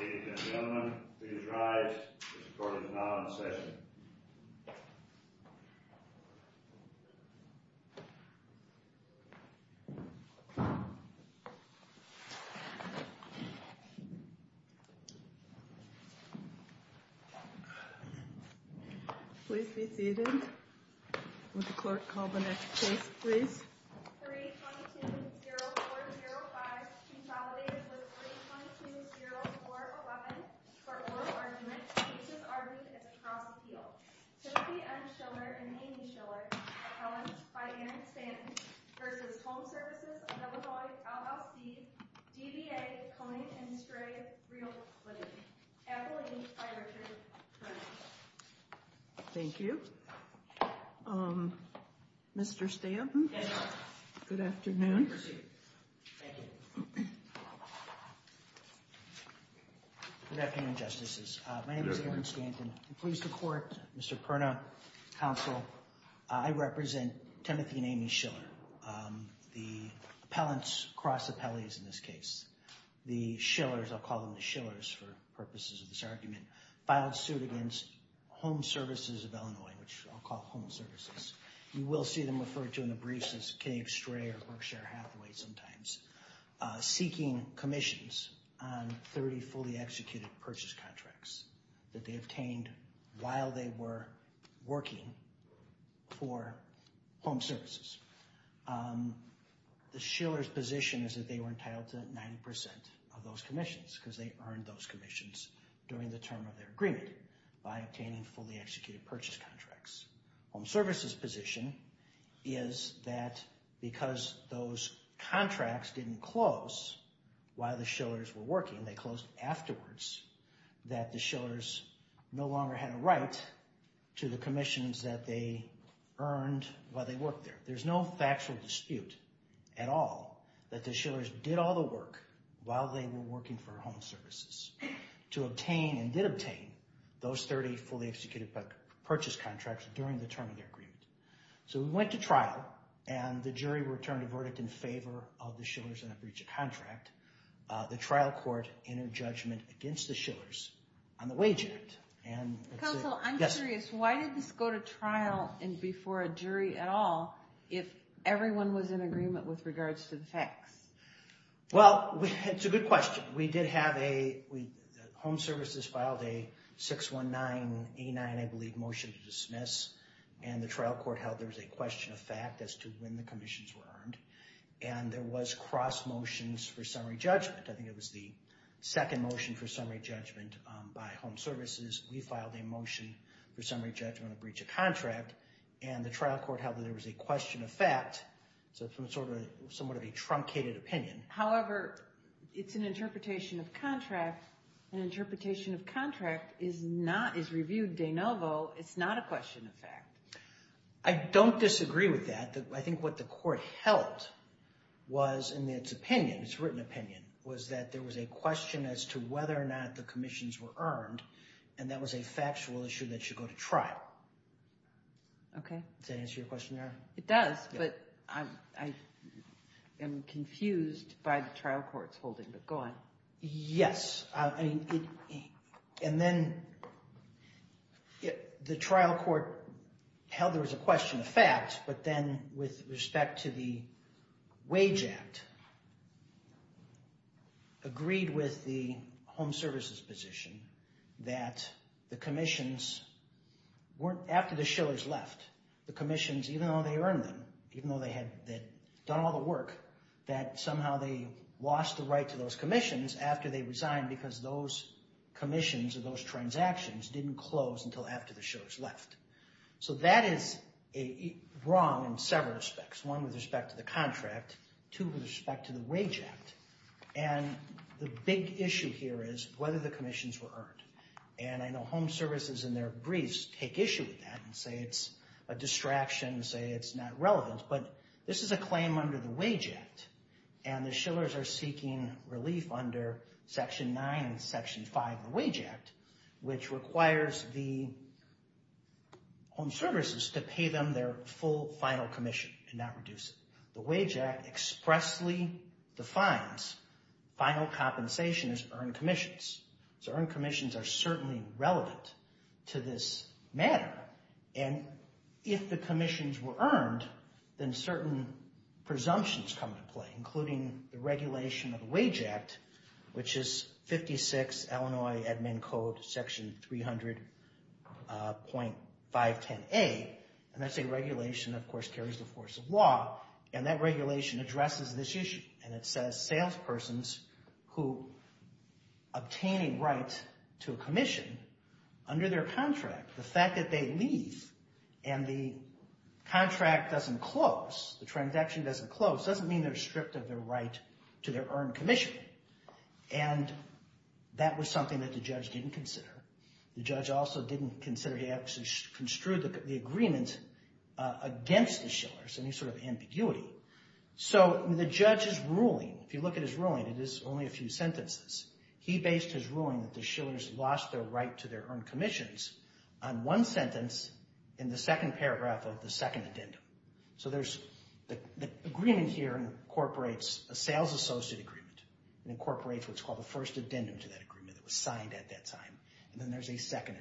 Ladies and gentlemen, please rise. This court is now in session. Please be seated. Would the clerk call the next case, please? 3-2-2-0-4-0-5, consolidated with 3-2-2-0-4-11 for oral argument. The case is argued at the cross appeal. Timothy M. Schiller and Amy Schiller, appellants by Erin Stanton v. Home Services of Illinois, LLC DBA, Coney & Stray Realty. Appellant by Richard Cronin. Thank you. Mr. Stanton, good afternoon. Good afternoon, Justices. My name is Aaron Stanton. I'm pleased to court Mr. Perna, counsel. I represent Timothy and Amy Schiller, the appellants, cross appellees in this case. The Schillers, I'll call them the Schillers for purposes of this argument, filed suit against Home Services of Illinois, which I'll call Home Services. You will see them referred to in the briefs as Coney & Stray or Berkshire Hathaway sometimes, seeking commissions on 30 fully executed purchase contracts that they obtained while they were working for Home Services. The Schillers' position is that they were entitled to 90% of those commissions because they earned those commissions during the term of their agreement by obtaining fully executed purchase contracts. Home Services' position is that because those contracts didn't close while the Schillers were working, they closed afterwards, that the Schillers no longer had a right to the commissions that they earned while they worked there. There's no factual dispute at all that the Schillers did all the work while they were working for Home Services to obtain and did obtain those 30 fully executed purchase contracts during the term of their agreement. So we went to trial and the jury returned a verdict in favor of the Schillers and the breach of contract. The trial court entered judgment against the Schillers on the Wage Act. Counsel, I'm curious, why did this go to trial and before a jury at all if everyone was in agreement with regards to the facts? Well, it's a good question. Home Services filed a 619A9, I believe, motion to dismiss. And the trial court held there was a question of fact as to when the commissions were earned. And there was cross motions for summary judgment. I think it was the second motion for summary judgment by Home Services. We filed a motion for summary judgment of breach of contract. And the trial court held that there was a question of fact. So it's somewhat of a truncated opinion. However, it's an interpretation of contract. An interpretation of contract is reviewed de novo. It's not a question of fact. I don't disagree with that. I think what the court held was in its opinion, its written opinion, was that there was a question as to whether or not the commissions were earned. And that was a factual issue that should go to trial. Okay. Does that answer your question, Erin? It does, but I am confused by the trial court's holding. But go on. Yes. I mean, and then the trial court held there was a question of fact. But then with respect to the Wage Act, agreed with the Home Services position that the commissions weren't, after the Shillers left, the commissions, even though they earned them, even though they had done all the work, that somehow they lost the right to those commissions after they resigned because those commissions or those transactions didn't close until after the Shillers left. So that is wrong in several respects, one with respect to the contract, two with respect to the Wage Act. And the big issue here is whether the commissions were earned. And I know Home Services in their briefs take issue with that and say it's a distraction, say it's not relevant. But this is a claim under the Wage Act, and the Shillers are seeking relief under Section 9 and Section 5 of the Wage Act, which requires the Home Services to pay them their full final commission and not reduce it. The Wage Act expressly defines final compensation as earned commissions. So earned commissions are certainly relevant to this matter. And if the commissions were earned, then certain presumptions come into play, including the regulation of the Wage Act, which is 56 Illinois Admin Code, Section 300.510A, and that's a regulation that, of course, carries the force of law, and that regulation addresses this issue. And it says salespersons who obtain a right to a commission under their contract, the fact that they leave and the contract doesn't close, the transaction doesn't close, doesn't mean they're stripped of their right to their earned commission. And that was something that the judge didn't consider. The judge also didn't consider he actually construed the agreement against the Shillers, any sort of ambiguity. So the judge's ruling, if you look at his ruling, it is only a few sentences. He based his ruling that the Shillers lost their right to their earned commissions on one sentence in the second paragraph of the second addendum. So there's the agreement here incorporates a sales associate agreement. It incorporates what's called the first addendum to that agreement that was signed at that time. And then there's a second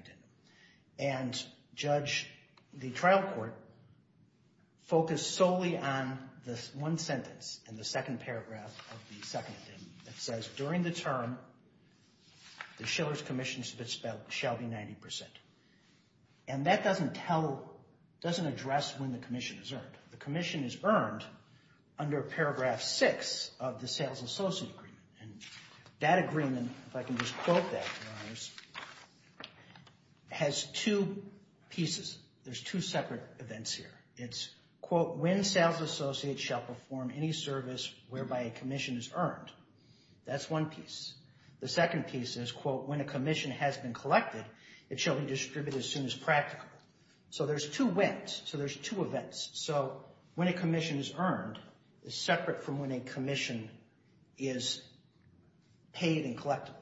addendum. And the trial court focused solely on this one sentence in the second paragraph of the second addendum that says, during the term, the Shillers commission shall be 90%. And that doesn't tell, doesn't address when the commission is earned. The commission is earned under paragraph six of the sales associate agreement. And that agreement, if I can just quote that, Your Honors, has two pieces. There's two separate events here. It's, quote, when sales associates shall perform any service whereby a commission is earned. That's one piece. The second piece is, quote, when a commission has been collected, it shall be distributed as soon as practical. So there's two whens. So there's two events. So when a commission is earned is separate from when a commission is paid and collectible.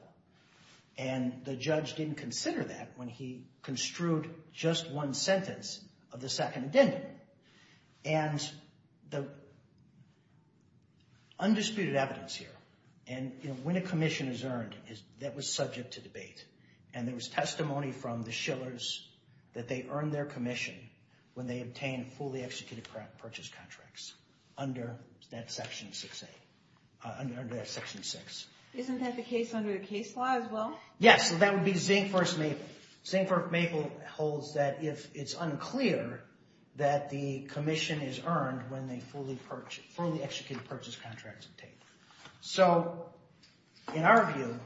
And the judge didn't consider that when he construed just one sentence of the second addendum. And the undisputed evidence here, and when a commission is earned, that was subject to debate. And there was testimony from the Shillers that they earned their commission when they obtained fully executed purchase contracts under that section six. Isn't that the case under the case law as well? Yes, that would be Zink versus Maple. Zink versus Maple holds that if it's unclear that the commission is earned when the fully executed purchase contracts are paid. So, in our view,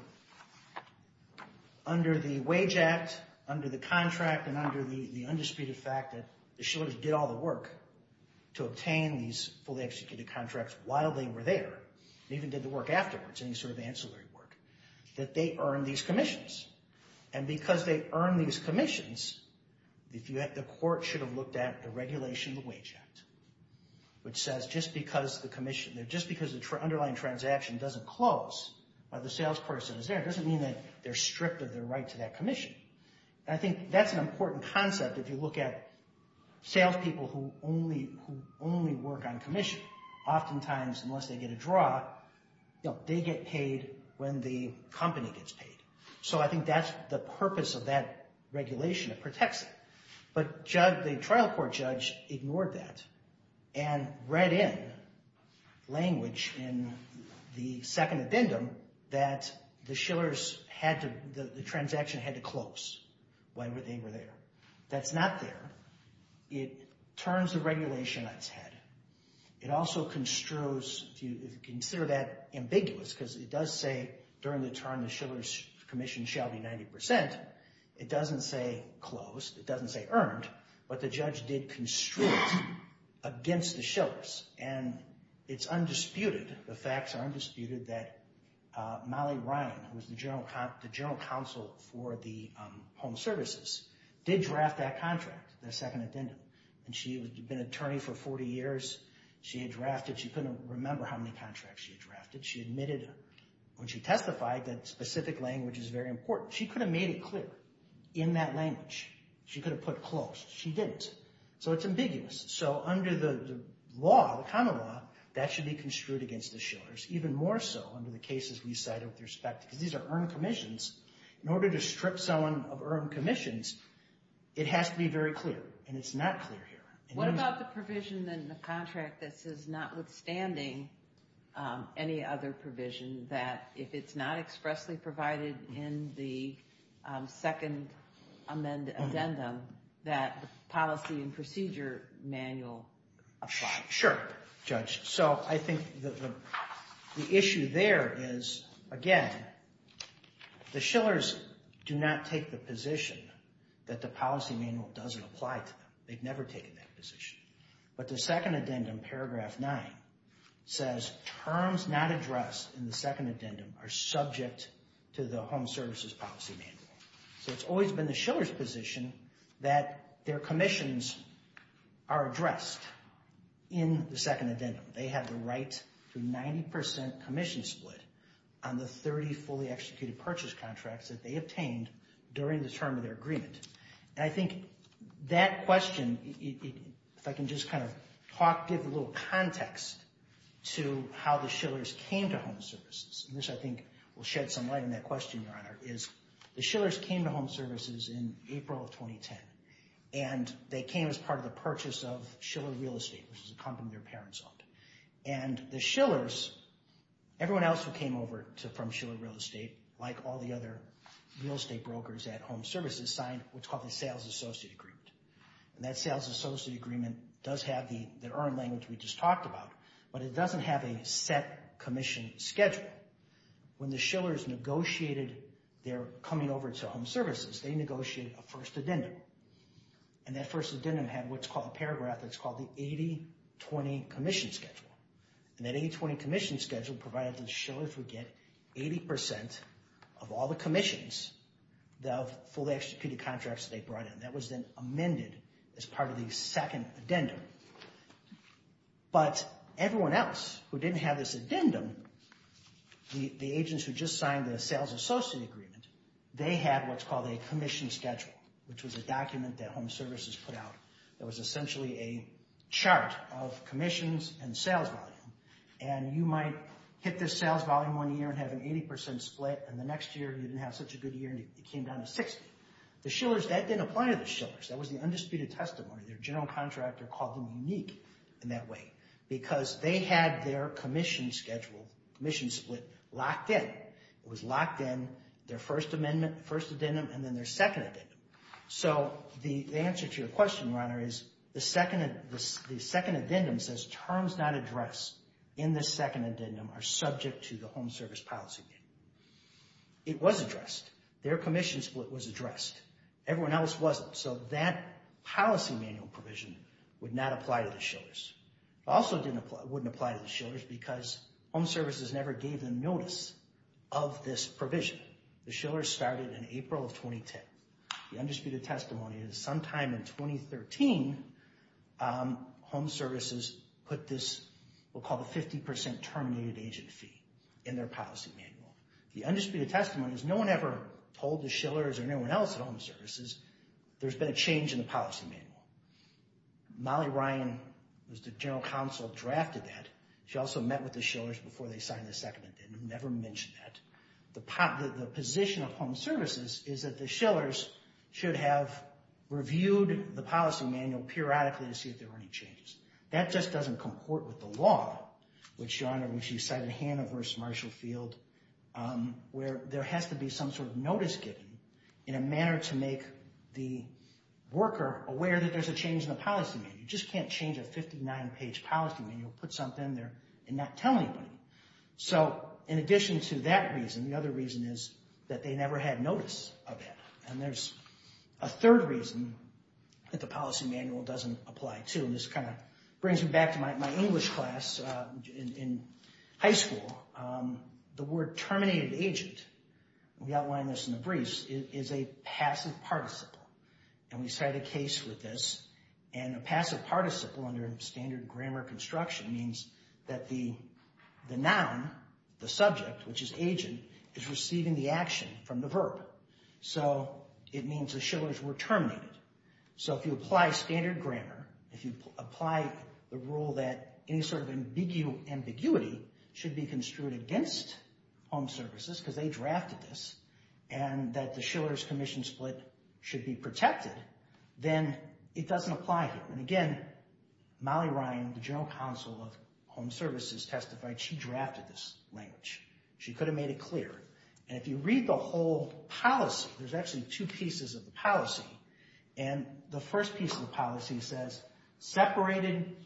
under the Wage Act, under the contract, and under the undisputed fact that the Shillers did all the work to obtain these fully executed contracts while they were there, and even did the work afterwards, any sort of ancillary work, that they earned these commissions. And because they earned these commissions, the court should have looked at the regulation of the Wage Act, which says just because the commission, just because the underlying transaction doesn't close while the salesperson is there, doesn't mean that they're stripped of their right to that commission. And I think that's an important concept if you look at salespeople who only work on commission. Oftentimes, unless they get a draw, they get paid when the company gets paid. So I think that's the purpose of that regulation. It protects them. But the trial court judge ignored that and read in language in the second addendum that the transaction had to close while they were there. That's not there. It turns the regulation on its head. It also construes, if you consider that ambiguous, because it does say during the term, the Shillers commission shall be 90%. It doesn't say closed. It doesn't say earned. But the judge did construe it against the Shillers. And it's undisputed, the facts are undisputed, that Molly Ryan, who was the general counsel for the home services, did draft that contract, the second addendum. And she had been an attorney for 40 years. She had drafted. She couldn't remember how many contracts she had drafted. She admitted when she testified that specific language is very important. She could have made it clear in that language. She could have put closed. She didn't. So it's ambiguous. So under the law, the common law, that should be construed against the Shillers, even more so under the cases we cited with respect to. Because these are earned commissions. In order to strip someone of earned commissions, it has to be very clear. And it's not clear here. What about the provision in the contract that says, notwithstanding any other provision, that if it's not expressly provided in the second addendum, that the policy and procedure manual apply? Sure, Judge. So I think the issue there is, again, the Shillers do not take the position that the policy manual doesn't apply to them. They've never taken that position. But the second addendum, paragraph 9, says terms not addressed in the second addendum are subject to the home services policy manual. So it's always been the Shillers' position that their commissions are addressed in the second addendum. They have the right to 90% commission split on the 30 fully-executed purchase contracts that they obtained during the term of their agreement. And I think that question, if I can just kind of talk, give a little context to how the Shillers came to home services. And this, I think, will shed some light on that question, Your Honor, is the Shillers came to home services in April of 2010. And they came as part of the purchase of Shiller Real Estate, which was a company their parents owned. And the Shillers, everyone else who came over from Shiller Real Estate, like all the other real estate brokers at home services, signed what's called the Sales Associate Agreement. And that Sales Associate Agreement does have the earned language we just talked about, but it doesn't have a set commission schedule. When the Shillers negotiated their coming over to home services, they negotiated a first addendum. And that first addendum had what's called a paragraph that's called the 80-20 Commission Schedule. And that 80-20 Commission Schedule provided the Shillers would get 80% of all the commissions of fully-executed contracts that they brought in. That was then amended as part of the second addendum. But everyone else who didn't have this addendum, the agents who just signed the Sales Associate Agreement, they had what's called a Commission Schedule, which was a document that home services put out that was essentially a chart of commissions and sales volume. And you might hit this sales volume one year and have an 80% split, and the next year you didn't have such a good year and it came down to 60. The Shillers, that didn't apply to the Shillers. That was the undisputed testimony. Their general contractor called them unique in that way because they had their commission schedule, commission split, locked in. It was locked in, their first amendment, first addendum, and then their second addendum. So the answer to your question, Ron, is the second addendum says terms not addressed in this second addendum are subject to the Home Service Policy Manual. It was addressed. Their commission split was addressed. Everyone else wasn't. So that policy manual provision would not apply to the Shillers. It also wouldn't apply to the Shillers because home services never gave them notice of this provision. The Shillers started in April of 2010. The undisputed testimony is sometime in 2013, home services put this what we'll call the 50% terminated agent fee in their policy manual. The undisputed testimony is no one ever told the Shillers or anyone else at home services, there's been a change in the policy manual. Molly Ryan, who's the general counsel, drafted that. She also met with the Shillers before they signed the second addendum, never mentioned that. The position of home services is that the Shillers should have reviewed the policy manual periodically to see if there were any changes. That just doesn't comport with the law, which, John, which you cited Hannah v. Marshall Field, where there has to be some sort of notice given in a manner to make the worker aware that there's a change in the policy manual. You just can't change a 59-page policy manual, put something in there and not tell anybody. So in addition to that reason, the other reason is that they never had notice of it. And there's a third reason that the policy manual doesn't apply to. This kind of brings me back to my English class in high school. The word terminated agent, we outlined this in the briefs, is a passive participle. And we cite a case with this. And a passive participle under standard grammar construction means that the noun, the subject, which is agent, is receiving the action from the verb. So it means the Shillers were terminated. So if you apply standard grammar, if you apply the rule that any sort of ambiguity should be construed against home services, because they drafted this, and that the Shillers commission split should be protected, then it doesn't apply here. And again, Molly Ryan, the general counsel of home services, testified. She drafted this language. She could have made it clear. And if you read the whole policy, there's actually two pieces of the policy. And the first piece of the policy says, Separated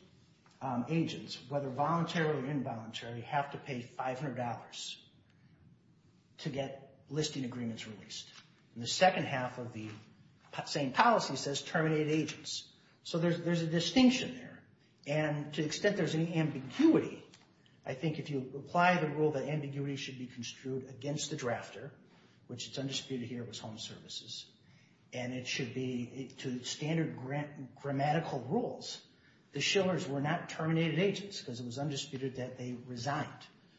agents, whether voluntary or involuntary, have to pay $500 to get listing agreements released. And the second half of the same policy says terminate agents. So there's a distinction there. And to the extent there's any ambiguity, I think if you apply the rule that ambiguity should be construed against the drafter, which is undisputed here with home services, and it should be to standard grammatical rules, the Shillers were not terminated agents, because it was undisputed that they resigned.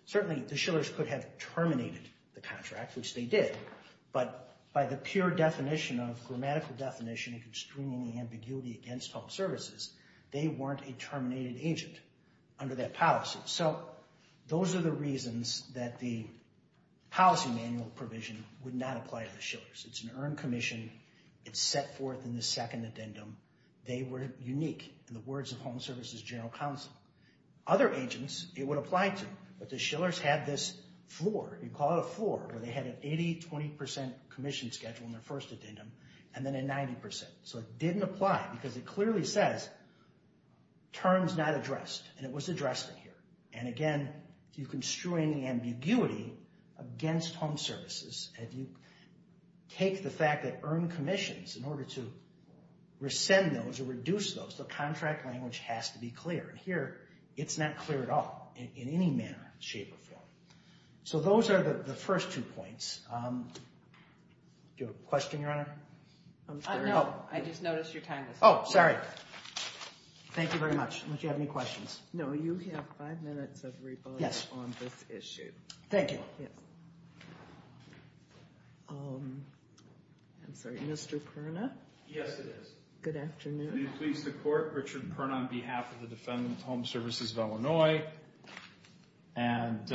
Certainly the Shillers could have terminated the contract, which they did, but by the pure definition of grammatical definition of extremely ambiguity against home services, they weren't a terminated agent under that policy. So those are the reasons that the policy manual provision would not apply to the Shillers. It's an earned commission. It's set forth in the second addendum. They were unique in the words of Home Services General Counsel. Other agents, it would apply to, but the Shillers had this floor, you call it a floor, where they had an 80%, 20% commission schedule in their first addendum, and then a 90%. So it didn't apply because it clearly says terms not addressed, and it was addressed in here. And again, you constrain the ambiguity against home services. If you take the fact that earned commissions, in order to rescind those or reduce those, the contract language has to be clear. Here, it's not clear at all in any manner, shape, or form. So those are the first two points. Do you have a question, Your Honor? No, I just noticed your time was up. Oh, sorry. Thank you very much. I don't know if you have any questions. No, you have five minutes of rebuttal on this issue. Yes. Thank you. Yes. I'm sorry, Mr. Perna? Yes, it is. Good afternoon. Please, the Court. Richard Perna on behalf of the Defendant Home Services of Illinois. And,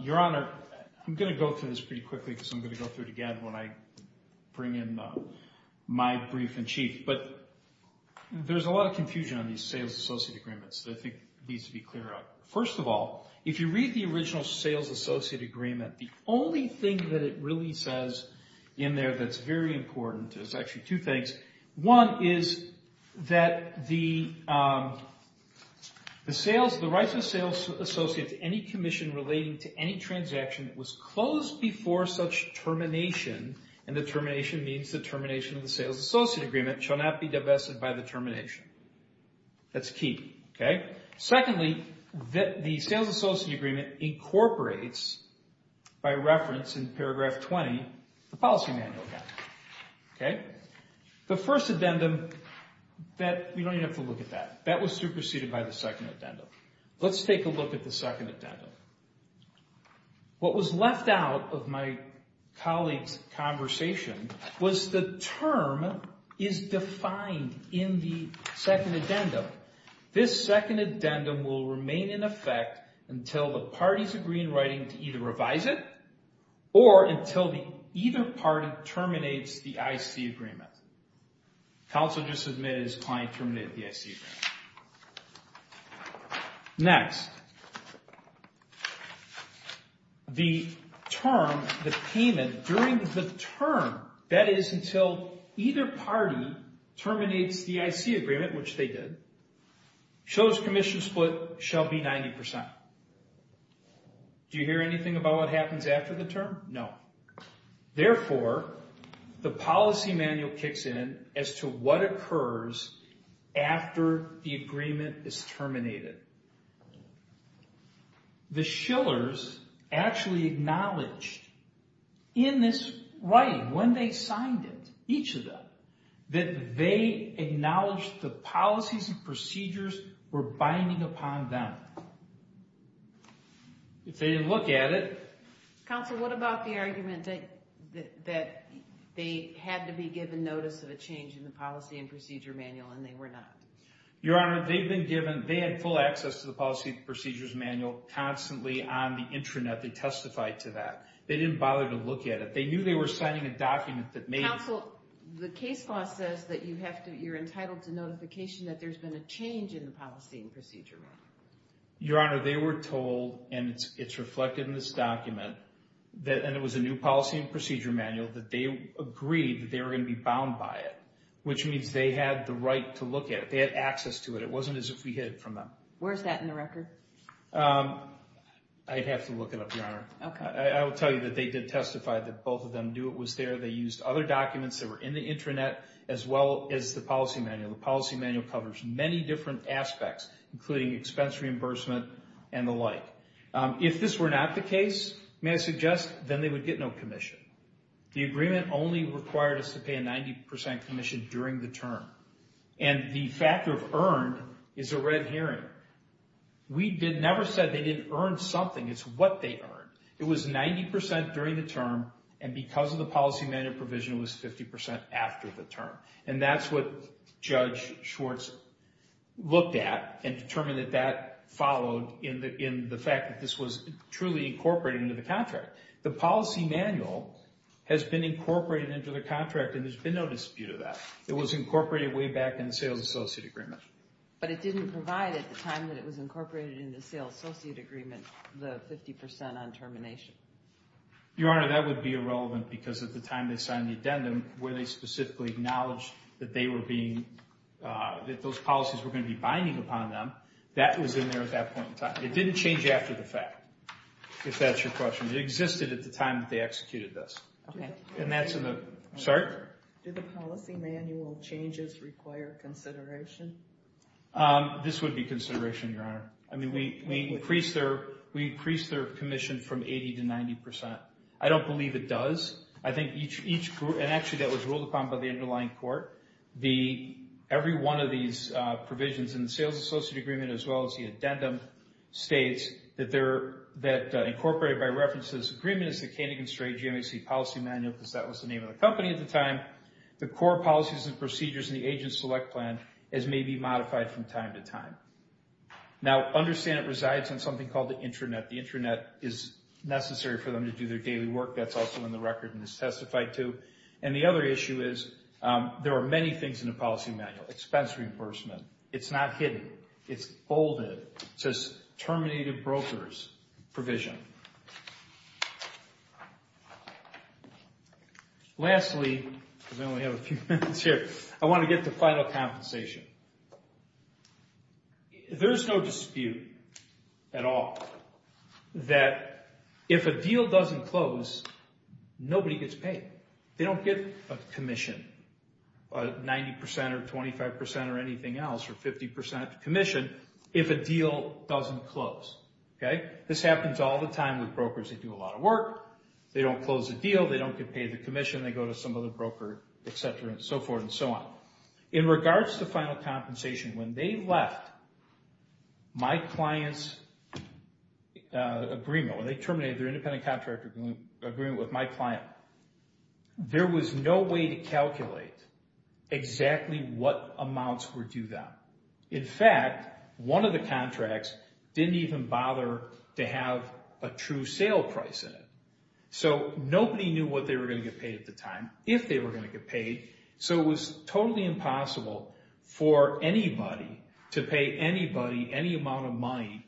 Your Honor, I'm going to go through this pretty quickly, because I'm going to go through it again when I bring in my brief-in-chief. But there's a lot of confusion on these sales associate agreements that I think needs to be cleared up. First of all, if you read the original sales associate agreement, the only thing that it really says in there that's very important, there's actually two things. One is that the rights of the sales associate to any commission relating to any transaction that was closed before such termination, and the termination means the termination of the sales associate agreement, shall not be divested by the termination. That's key. Secondly, the sales associate agreement incorporates, by reference in paragraph 20, the policy manual. The first addendum, we don't even have to look at that. That was superseded by the second addendum. Let's take a look at the second addendum. What was left out of my colleague's conversation was the term is defined in the second addendum. This second addendum will remain in effect until the parties agree in writing to either revise it or until either party terminates the IC agreement. Counsel just admitted his client terminated the IC agreement. Next, the term, the payment during the term, that is until either party terminates the IC agreement, which they did, shows commission split shall be 90%. Do you hear anything about what happens after the term? No. Therefore, the policy manual kicks in as to what occurs after the agreement is terminated. The Schillers actually acknowledged in this writing when they signed it, each of them, that they acknowledged the policies and procedures were binding upon them. If they didn't look at it... Counsel, what about the argument that they had to be given notice of a change in the policy and procedure manual and they were not? Your Honor, they had full access to the policy and procedures manual constantly on the intranet. They testified to that. They didn't bother to look at it. They knew they were signing a document that made it... Counsel, the case law says that you're entitled to notification that there's been a change in the policy and procedure manual. Your Honor, they were told, and it's reflected in this document, and it was a new policy and procedure manual, that they agreed that they were going to be bound by it, which means they had the right to look at it. They had access to it. It wasn't as if we hid it from them. Where's that in the record? I'd have to look it up, Your Honor. I will tell you that they did testify that both of them knew it was there. They used other documents that were in the intranet as well as the policy manual. The policy manual covers many different aspects, including expense reimbursement and the like. If this were not the case, may I suggest, then they would get no commission. The agreement only required us to pay a 90% commission during the term. And the factor of earned is a red herring. We never said they didn't earn something. It's what they earned. It was 90% during the term, and because of the policy manual provision, it was 50% after the term. And that's what Judge Schwartz looked at and determined that that followed in the fact that this was truly incorporated into the contract. The policy manual has been incorporated into the contract, and there's been no dispute of that. It was incorporated way back in the sales associate agreement. But it didn't provide at the time that it was incorporated in the sales associate agreement the 50% on termination. Your Honor, that would be irrelevant because at the time they signed the addendum, where they specifically acknowledged that those policies were going to be binding upon them, that was in there at that point in time. It didn't change after the fact, if that's your question. It existed at the time that they executed this. And that's in the, sorry? Do the policy manual changes require consideration? This would be consideration, Your Honor. I mean, we increased their commission from 80% to 90%. I don't believe it does. I think each, and actually that was ruled upon by the underlying court. Every one of these provisions in the sales associate agreement, as well as the addendum, states that incorporated by reference to this agreement is the Canning and Stray GMAC policy manual, because that was the name of the company at the time. The core policies and procedures in the agent select plan as may be modified from time to time. Now, understand it resides on something called the intranet. The intranet is necessary for them to do their daily work. That's also in the record and is testified to. And the other issue is there are many things in the policy manual, expense reimbursement. It's not hidden. It's bolded. It says terminated brokers provision. Lastly, because I only have a few minutes here, I want to get to final compensation. There's no dispute at all that if a deal doesn't close, nobody gets paid. They don't get a commission, 90% or 25% or anything else, or 50% commission, if a deal doesn't close. This happens all the time with brokers that do a lot of work. They don't close a deal. They don't get paid the commission. They go to some other broker, et cetera, and so forth and so on. In regards to final compensation, when they left my client's agreement, when they terminated their independent contractor agreement with my client, there was no way to calculate exactly what amounts were due them. In fact, one of the contracts didn't even bother to have a true sale price in it. So nobody knew what they were going to get paid at the time, if they were going to get paid. So it was totally impossible for anybody to pay anybody any amount of money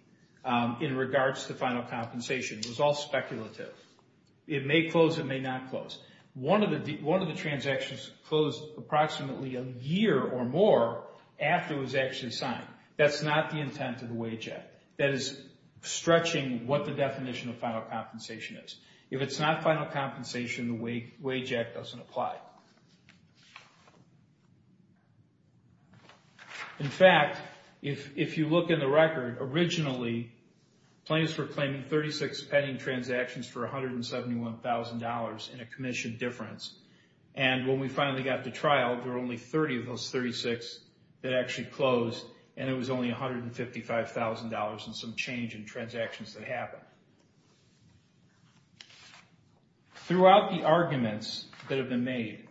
in regards to final compensation. It was all speculative. It may close. It may not close. One of the transactions closed approximately a year or more after it was actually signed. That's not the intent of the Wage Act. That is stretching what the definition of final compensation is. If it's not final compensation, the Wage Act doesn't apply. In fact, if you look in the record, originally plaintiffs were claiming 36 pending transactions for $171,000 in a commission difference. And when we finally got to trial, there were only 30 of those 36 that actually closed, and it was only $155,000 in some change in transactions that happened. Throughout the arguments that have been made,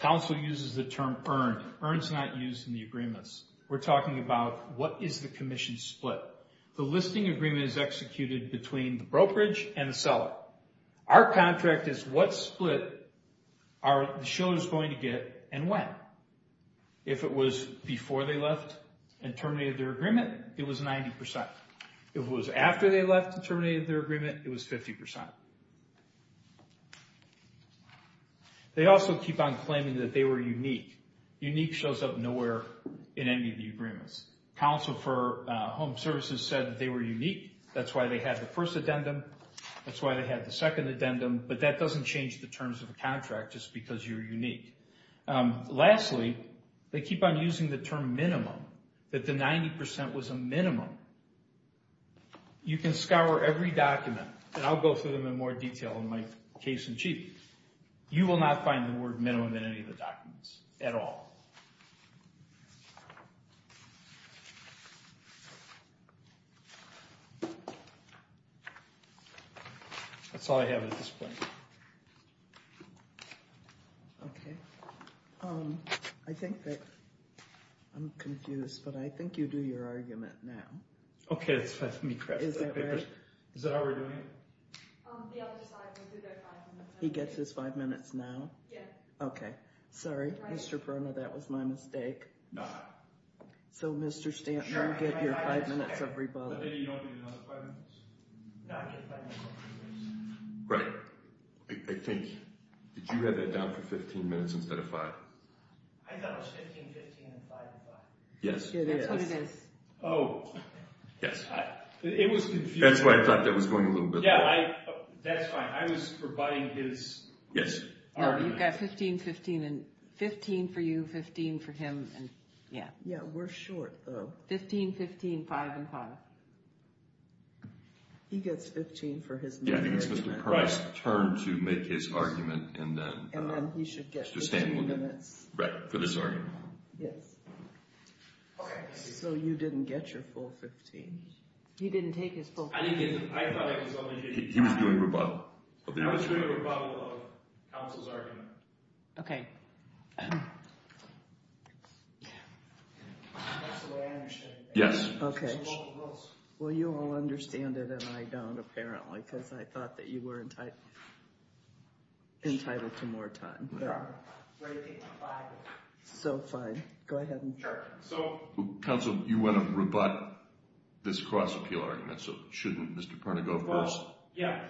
counsel uses the term earned. Earned is not used in the agreements. We're talking about what is the commission split. The listing agreement is executed between the brokerage and the seller. Our contract is what split are the shillers going to get and when. If it was before they left and terminated their agreement, it was 90%. If it was after they left and terminated their agreement, it was 50%. They also keep on claiming that they were unique. Unique shows up nowhere in any of the agreements. Counsel for Home Services said that they were unique. That's why they had the first addendum. That's why they had the second addendum. But that doesn't change the terms of the contract just because you're unique. Lastly, they keep on using the term minimum, that the 90% was a minimum. You can scour every document, and I'll go through them in more detail in my case You will not find the word minimum in any of the documents at all. That's all I have at this point. Okay. I think that I'm confused, but I think you do your argument now. Okay, let me correct that. Is that how we're doing it? He gets his five minutes now? Yes. Okay. Sorry, Mr. Perona, that was my mistake. No. So, Mr. Stanton, you get your five minutes, everybody. Right. I think. Did you have that down for 15 minutes instead of five? I thought it was 15, 15, and five, and five. Yes, it is. That's what it is. Oh. Yes. It was confusing. That's why I thought that was going a little bit long. Yeah, that's fine. I was providing his argument. Yes. No, you've got 15, 15, and 15 for you, 15 for him, and yeah. Yeah, we're short, though. 15, 15, five, and five. He gets 15 for his minimum. Yeah, I think it's Mr. Perona's turn to make his argument, and then Mr. Stanton will do it. And then he should get 15 minutes. Right, for this argument. Yes. Okay. So you didn't get your full 15. He didn't take his full 15. I thought it was only 15. He was doing rebuttal. I was doing a rebuttal of counsel's argument. Okay. That's the way I understand it. Yes. Okay. It's the local rules. Well, you all understand it, and I don't, apparently, because I thought that you were entitled to more time. Right. Right. So fine. Go ahead. Sure. Counsel, you want to rebut this cross-appeal argument, so shouldn't Mr. Perona go first? Well, yeah.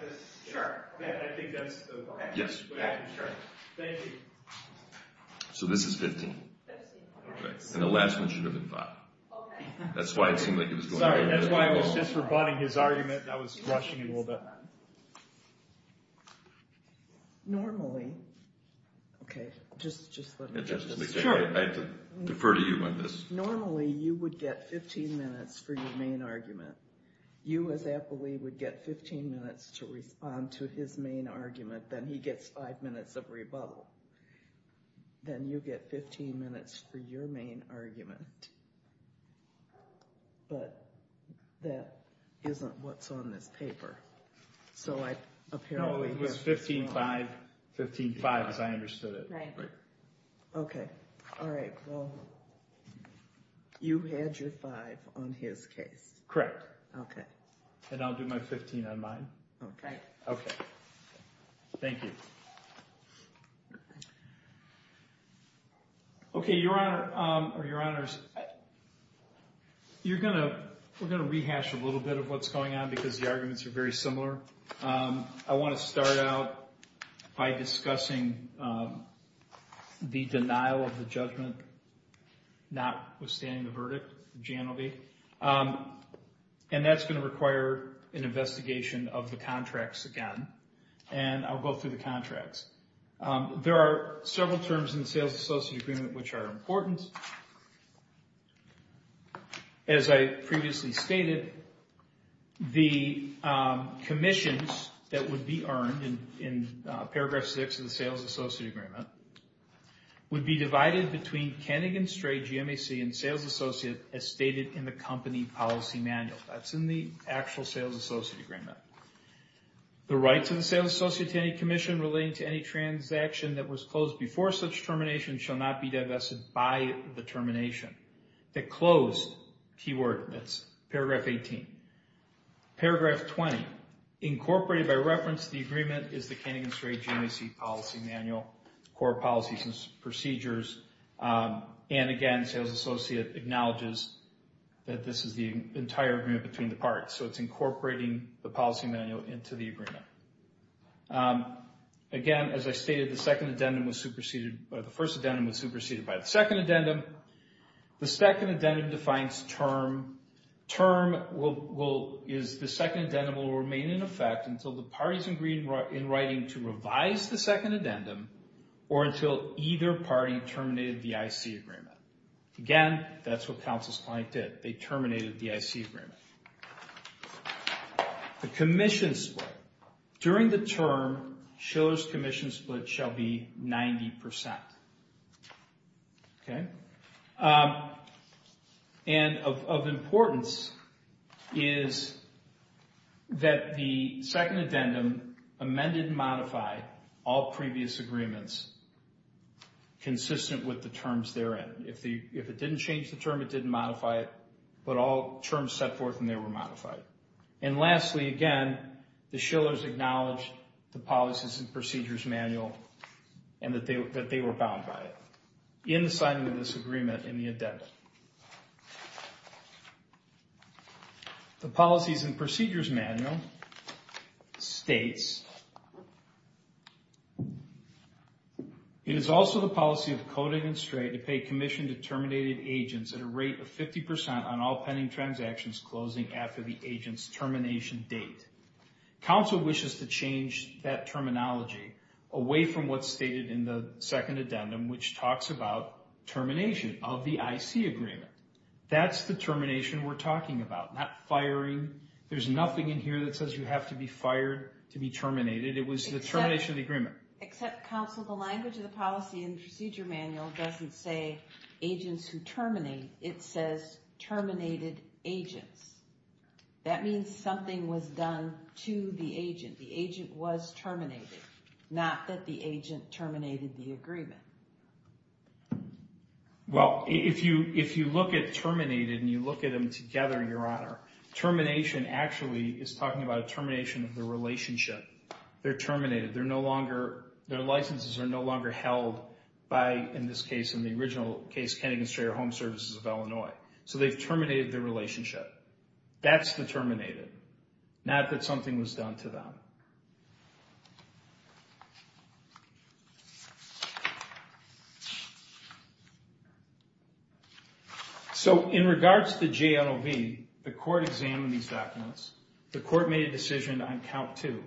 Sure. I think that's the way I can start. Yes. Thank you. So this is 15. That is 15. Okay. And the last one should have been five. Okay. That's why it seemed like it was going over. Sorry. That's why I was just rebutting his argument, and I was rushing it a little bit. Normally. Okay. Just let me get this. Sure. I defer to you on this. Normally, you would get 15 minutes for your main argument. You, as appellee, would get 15 minutes to respond to his main argument. Then he gets five minutes of rebuttal. Then you get 15 minutes for your main argument. But that isn't what's on this paper. So I, apparently... No, it was 15-5. 15-5, as I understood it. Right. Okay. All right. Well, you had your five on his case. Correct. Okay. And I'll do my 15 on mine. Okay. Okay. Thank you. Okay, Your Honor, or Your Honors, you're going to... We're going to rehash a little bit of what's going on because the arguments are very similar. I want to start out by discussing the denial of the judgment, notwithstanding the verdict. Jan will be. And that's going to require an investigation of the contracts again. And I'll go through the contracts. There are several terms in the Sales Associate Agreement which are important. First, as I previously stated, the commissions that would be earned in Paragraph 6 of the Sales Associate Agreement would be divided between Kennegan Stray GMAC and Sales Associate as stated in the company policy manual. That's in the actual Sales Associate Agreement. The rights of the Sales Associate to any commission relating to any transaction that was closed before such termination shall not be divested by the termination. The closed keyword, that's Paragraph 18. Paragraph 20, incorporated by reference to the agreement, is the Kennegan Stray GMAC policy manual, core policies and procedures. And again, Sales Associate acknowledges that this is the entire agreement between the parts. So it's incorporating the policy manual into the agreement. Again, as I stated, the first addendum was superseded by the second addendum. The second addendum defines term. Term is the second addendum will remain in effect until the parties agree in writing to revise the second addendum or until either party terminated the IC agreement. Again, that's what Counsel's Client did. They terminated the IC agreement. The commission split. During the term, Shiller's commission split shall be 90%. And of importance is that the second addendum amended and modified all previous agreements consistent with the terms therein. If it didn't change the term, it didn't modify it. But all terms set forth and they were modified. And lastly, again, the Shillers acknowledged the policies and procedures manual and that they were bound by it in the signing of this agreement in the addendum. The policies and procedures manual states, it is also the policy of coding and straight to pay commission to terminated agents at a rate of 50% on all pending transactions closing after the agent's termination date. Counsel wishes to change that terminology away from what's stated in the second addendum, which talks about termination of the IC agreement. That's the termination we're talking about, not firing. There's nothing in here that says you have to be fired to be terminated. It was the termination of the agreement. Except, Counsel, the language of the policy and procedure manual doesn't say agents who terminate. It says terminated agents. That means something was done to the agent. The agent was terminated. Not that the agent terminated the agreement. Well, if you look at terminated and you look at them together, Your Honor, termination actually is talking about a termination of the relationship. They're terminated. They're no longer, their licenses are no longer held by, in this case, in the original case, Kennegan-Strayer Home Services of Illinois. So they've terminated their relationship. That's the terminated. Not that something was done to them. So in regards to JNOV, the court examined these documents. The court made a decision on count two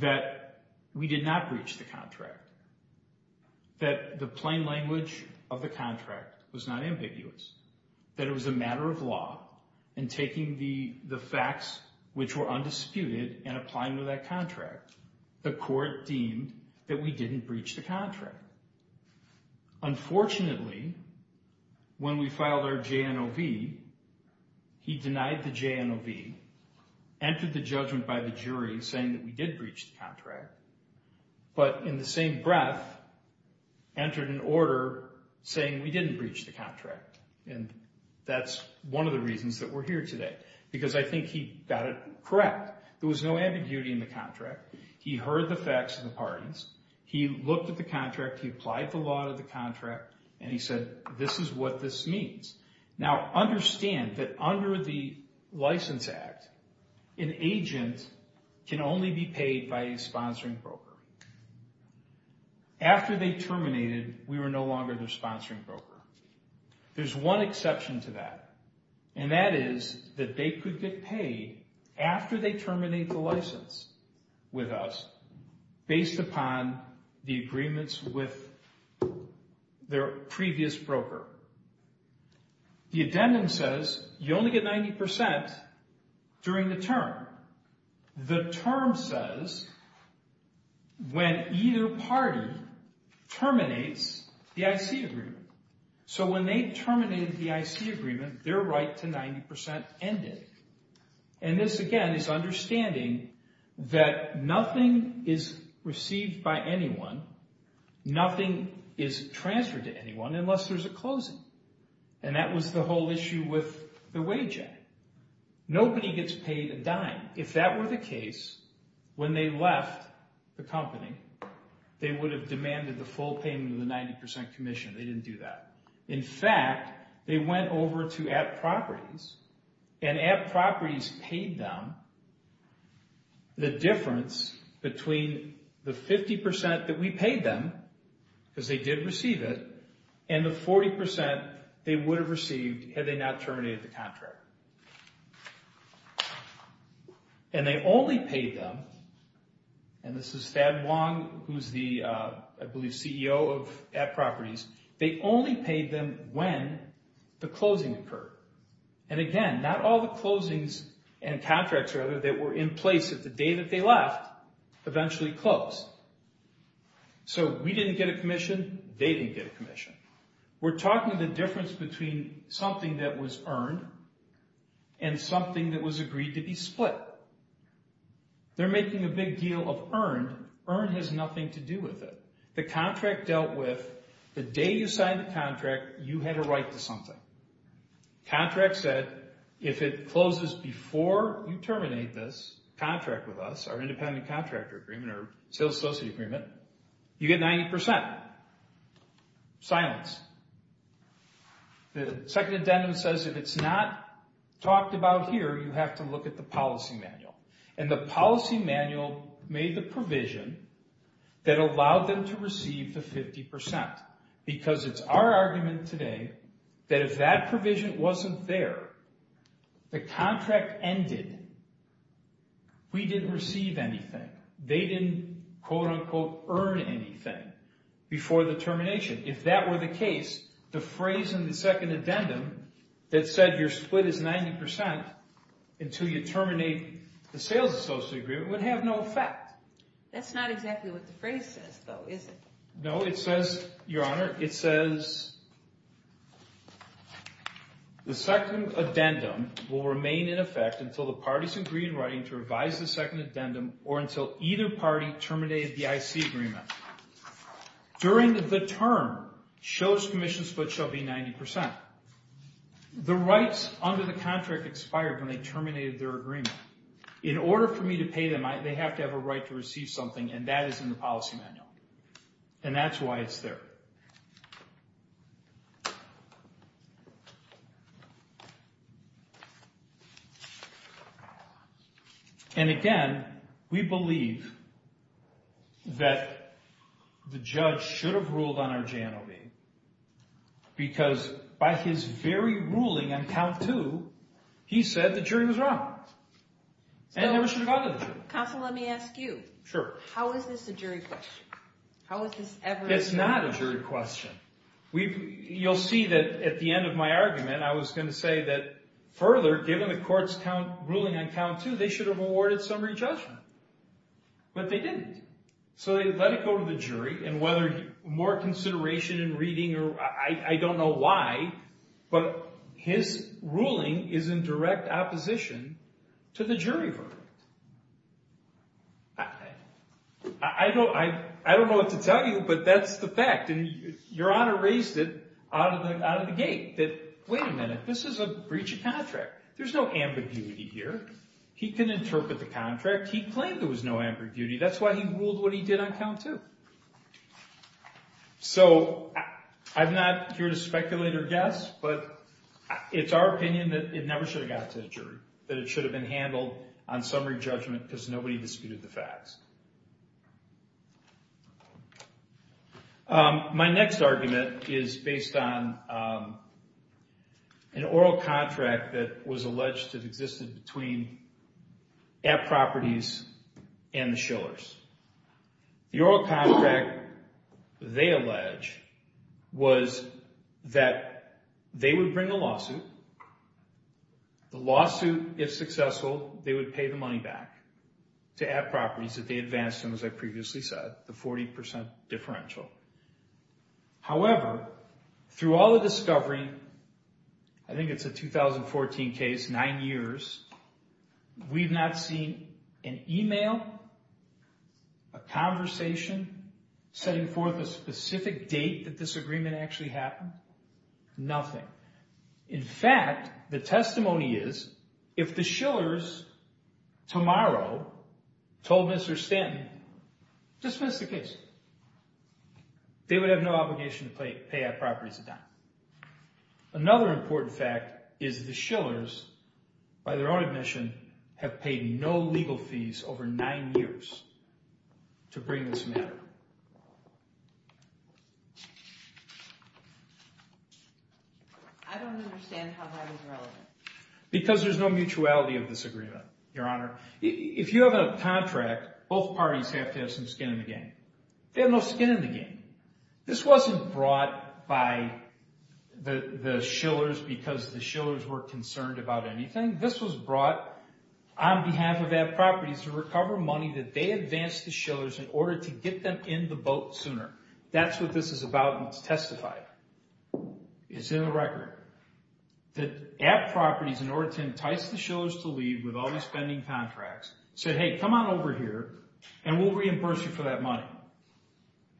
that we did not breach the contract, that the plain language of the contract was not ambiguous, that it was a matter of law and taking the facts which were undisputed and applying to that contract. The court deemed that we didn't breach the contract. Unfortunately, when we filed our JNOV, he denied the JNOV, entered the judgment by the jury saying that we did breach the contract, but in the same breath entered an order saying we didn't breach the contract. And that's one of the reasons that we're here today, because I think he got it correct. There was no ambiguity in the contract. He heard the facts of the pardons. He looked at the contract. He applied the law to the contract, and he said this is what this means. Now, understand that under the License Act, an agent can only be paid by a sponsoring broker. After they terminated, we were no longer their sponsoring broker. There's one exception to that, and that is that they could get paid after they terminate the license with us based upon the agreements with their previous broker. The addendum says you only get 90% during the term. The term says when either party terminates the IC agreement. So when they terminated the IC agreement, their right to 90% ended. And this, again, is understanding that nothing is received by anyone, nothing is transferred to anyone unless there's a closing. And that was the whole issue with the wage act. Nobody gets paid a dime. They would have demanded the full payment of the 90% commission. They didn't do that. In fact, they went over to App Properties, and App Properties paid them the difference between the 50% that we paid them, because they did receive it, and the 40% they would have received had they not terminated the contract. And they only paid them, and this is Thad Wong, who's the, I believe, CEO of App Properties. They only paid them when the closing occurred. And again, not all the closings and contracts, rather, that were in place at the day that they left eventually closed. So we didn't get a commission. They didn't get a commission. We're talking the difference between something that was earned and something that was agreed to be split. They're making a big deal of earned. Earned has nothing to do with it. The contract dealt with the day you signed the contract, you had a right to something. Contract said, if it closes before you terminate this contract with us, our independent contractor agreement or sales associate agreement, you get 90%. Silence. The second addendum says if it's not talked about here, you have to look at the policy manual. And the policy manual made the provision that allowed them to receive the 50%, because it's our argument today that if that provision wasn't there, the contract ended, we didn't receive anything. They didn't, quote, unquote, earn anything before the termination. If that were the case, the phrase in the second addendum that said, your split is 90% until you terminate the sales associate agreement would have no effect. That's not exactly what the phrase says, though, is it? No, it says, Your Honor, it says, the second addendum will remain in effect until the parties agree in writing to revise the second addendum or until either party terminated the IC agreement. During the term, shows commission split shall be 90%. The rights under the contract expired when they terminated their agreement. In order for me to pay them, they have to have a right to receive something, and that is in the policy manual, and that's why it's there. And, again, we believe that the judge should have ruled on our JNOB, because by his very ruling on count two, he said the jury was wrong and never should have gone to the jury. Counsel, let me ask you. Sure. How is this a jury question? How is this ever a jury question? It's not a jury question. You'll see that at the end of my argument, I was going to say that further, given the court's ruling on count two, they should have awarded summary judgment, but they didn't, so they let it go to the jury, and whether more consideration in reading or I don't know why, but his ruling is in direct opposition to the jury verdict. I don't know what to tell you, but that's the fact, and Your Honor raised it out of the gate that, wait a minute, this is a breach of contract. There's no ambiguity here. He can interpret the contract. He claimed there was no ambiguity. That's why he ruled what he did on count two. So I'm not here to speculate or guess, but it's our opinion that it never should have gone to the jury, that it should have been handled on summary judgment because nobody disputed the facts. My next argument is based on an oral contract that was alleged to have existed between App Properties and the Shillers. The oral contract, they allege, was that they would bring a lawsuit. The lawsuit, if successful, they would pay the money back to App Properties that they advanced them, as I previously said, the 40% differential. However, through all the discovery, I think it's a 2014 case, nine years, we've not seen an email, a conversation setting forth a specific date that this agreement actually happened, nothing. In fact, the testimony is if the Shillers tomorrow told Mr. Stanton, dismiss the case, they would have no obligation to pay App Properties a dime. Another important fact is the Shillers, by their own admission, have paid no legal fees over nine years to bring this matter. I don't understand how that is relevant. Because there's no mutuality of this agreement, Your Honor. If you have a contract, both parties have to have some skin in the game. They have no skin in the game. This wasn't brought by the Shillers because the Shillers were concerned about anything. This was brought on behalf of App Properties to recover money that they advanced the Shillers in order to get them in the boat sooner. That's what this is about, and it's testified. It's in the record. That App Properties, in order to entice the Shillers to leave with all the spending contracts, said, hey, come on over here, and we'll reimburse you for that money.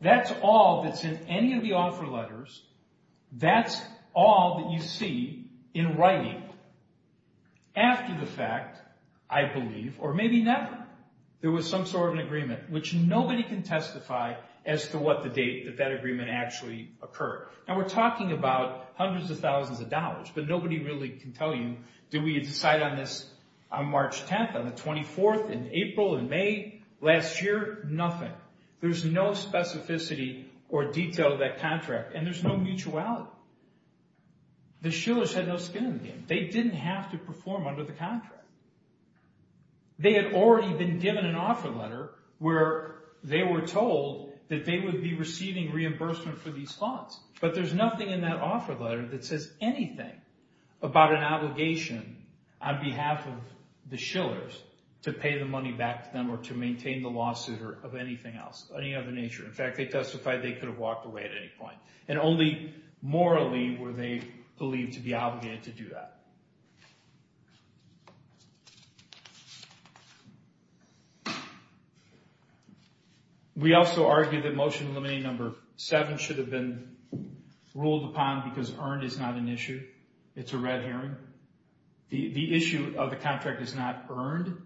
That's all that's in any of the offer letters. That's all that you see in writing. After the fact, I believe, or maybe never, there was some sort of an agreement, which nobody can testify as to what the date that that agreement actually occurred. Now, we're talking about hundreds of thousands of dollars, but nobody really can tell you, did we decide on this on March 10th, on the 24th, in April, in May last year? Nothing. There's no specificity or detail of that contract, and there's no mutuality. The Shillers had no skin in the game. They didn't have to perform under the contract. They had already been given an offer letter where they were told that they would be receiving reimbursement for these funds, but there's nothing in that offer letter that says anything about an effort to pay the money back to them or to maintain the lawsuit or of anything else, any other nature. In fact, they testified they could have walked away at any point, and only morally were they believed to be obligated to do that. We also argue that Motion Eliminating Number 7 should have been ruled upon because earned is not an issue. It's a red herring. The issue of the contract is not earned.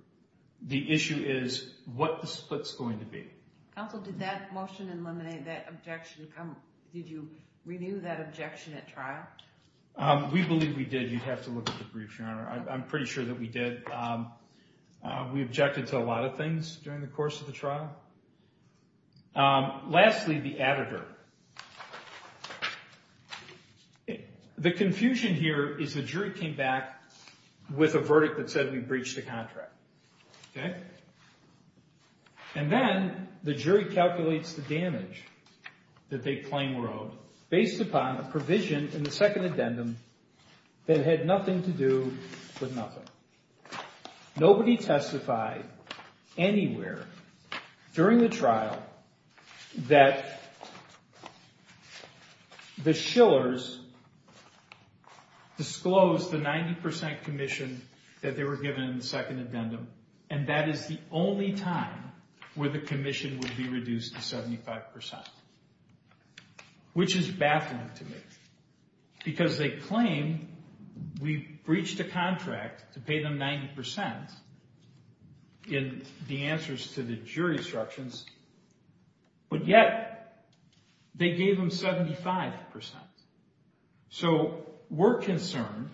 The issue is what the split's going to be. Counsel, did that motion eliminate that objection? Did you renew that objection at trial? We believe we did. You'd have to look at the brief, Your Honor. I'm pretty sure that we did. We objected to a lot of things during the course of the trial. Lastly, the editor. The confusion here is the jury came back with a verdict that said we breached the contract. Okay? And then the jury calculates the damage that they claim were owed based upon a provision in the second addendum that had nothing to do with nothing. Nobody testified anywhere during the trial that there was any The Schillers disclosed the 90% commission that they were given in the second addendum, and that is the only time where the commission would be reduced to 75%, which is baffling to me because they claim we breached a contract to pay them 90% in the answers to the jury instructions, but yet they gave them 75%. So we're concerned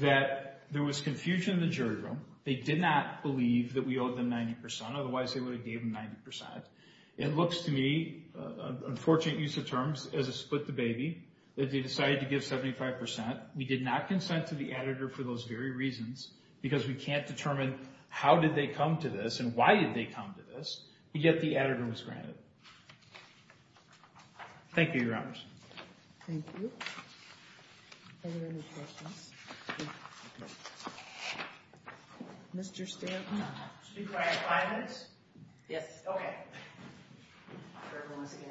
that there was confusion in the jury room. They did not believe that we owed them 90%, otherwise they would have gave them 90%. It looks to me, unfortunate use of terms, as a split the baby, that they decided to give 75%. We did not consent to the editor for those very reasons because we can't determine how did they come to this and why did they come to this, and yet the editor was granted. Thank you, Your Honors. Thank you. Are there any questions? Mr. Stanton? Should we try five minutes? Yes. Okay. Everyone wants to get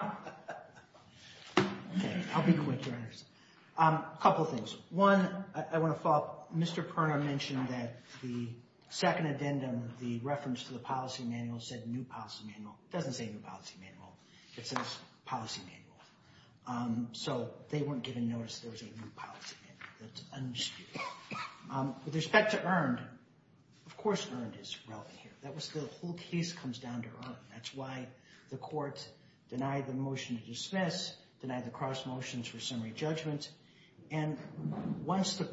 out of here. I'll be quick, Your Honors. A couple things. One, I want to follow up. Mr. Perna mentioned that the second addendum, the reference to the policy manual said new policy manual. It doesn't say new policy manual. It says policy manual. So they weren't given notice there was a new policy manual. That's undisputed. With respect to earned, of course earned is relevant here. The whole case comes down to earned. That's why the court denied the motion to dismiss, denied the cross motions for summary judgment, and once the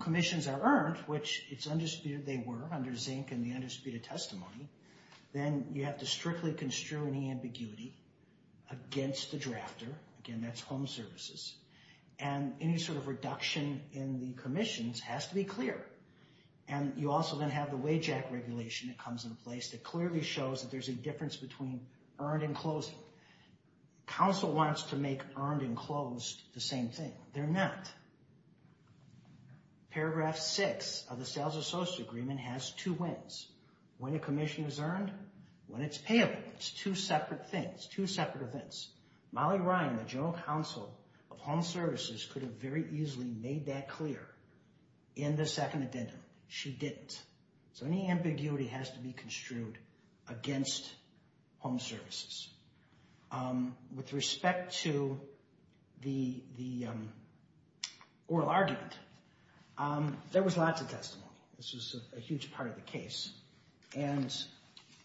commissions are earned, which it's undisputed they were under zinc and the undisputed testimony, then you have to strictly construe any ambiguity against the drafter. Again, that's home services. And any sort of reduction in the commissions has to be clear. And you also then have the WAIJAC regulation that comes into place that clearly shows that there's a difference between earned and closing. Council wants to make earned and closed the same thing. They're not. Paragraph 6 of the sales associate agreement has two wins. When a commission is earned, when it's payable. It's two separate things, two separate events. Molly Ryan, the general counsel of home services, could have very easily made that clear in the second addendum. She didn't. So any ambiguity has to be construed against home services. With respect to the oral argument, there was lots of testimony. This was a huge part of the case. And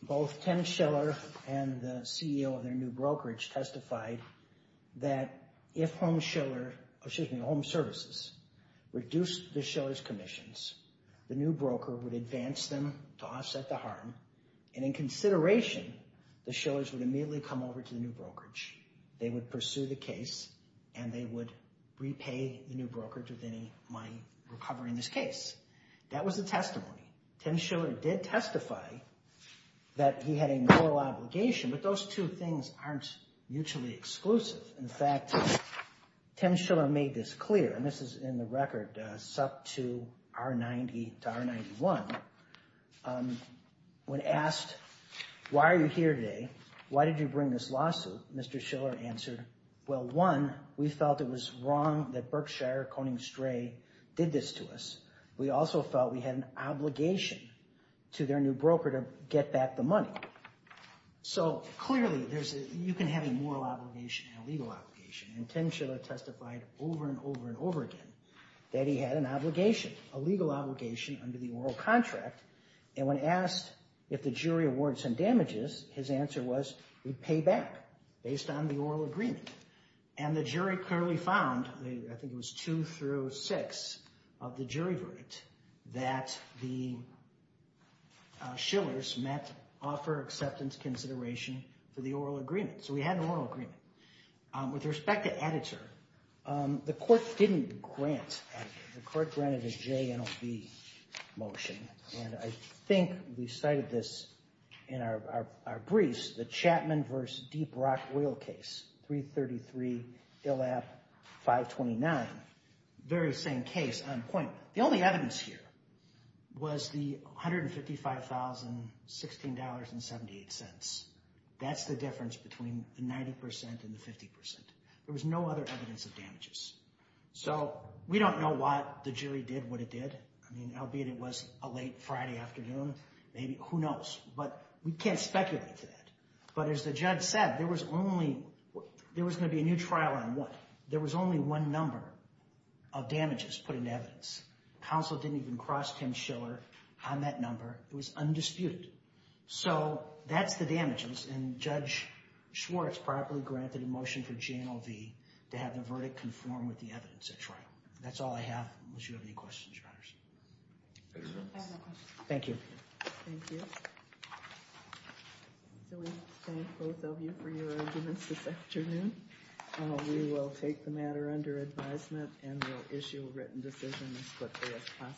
both Tim Schiller and the CEO of their new brokerage testified that if home services reduced the Schiller's commissions, the new broker would advance them to offset the harm. And in consideration, the Schillers would immediately come over to the new brokerage. They would pursue the case. And they would repay the new brokerage with any money recovering this case. That was the testimony. Tim Schiller did testify that he had a moral obligation. But those two things aren't mutually exclusive. In fact, Tim Schiller made this clear. And this is in the record, sub to R90 to R91. When asked, why are you here today? Why did you bring this lawsuit? Mr. Schiller answered, well, one, we felt it was wrong that Berkshire Coning Stray did this to us. We also felt we had an obligation to their new broker to get back the money. So clearly, you can have a moral obligation and a legal obligation. And Tim Schiller testified over and over and over again that he had an obligation, a legal obligation under the oral contract. And when asked if the jury awarded some damages, his answer was we'd pay back based on the oral agreement. And the jury clearly found, I think it was two through six of the jury verdict, that the Schillers met offer acceptance consideration for the oral agreement. So we had an oral agreement. With respect to Adderter, the court didn't grant Adderter. The court granted a JNLB motion. And I think we cited this in our briefs, the Chapman v. Deep Rock Oil case, 333-LF-529. Very same case on point. The only evidence here was the $155,016.78. That's the difference between the 90% and the 50%. There was no other evidence of damages. So we don't know why the jury did what it did. I mean, albeit it was a late Friday afternoon, maybe. Who knows? But we can't speculate to that. But as the judge said, there was going to be a new trial on what? There was only one number of damages put into evidence. Counsel didn't even cross Tim Schiller on that number. It was undisputed. So that's the damages. And Judge Schwartz probably granted a motion for JNLB to have the verdict conform with the evidence at trial. That's all I have, unless you have any questions, Your Honors. I have no questions. Thank you. Thank you. So we thank both of you for your arguments this afternoon. We will take the matter under advisement and we'll issue a written decision as quickly as possible.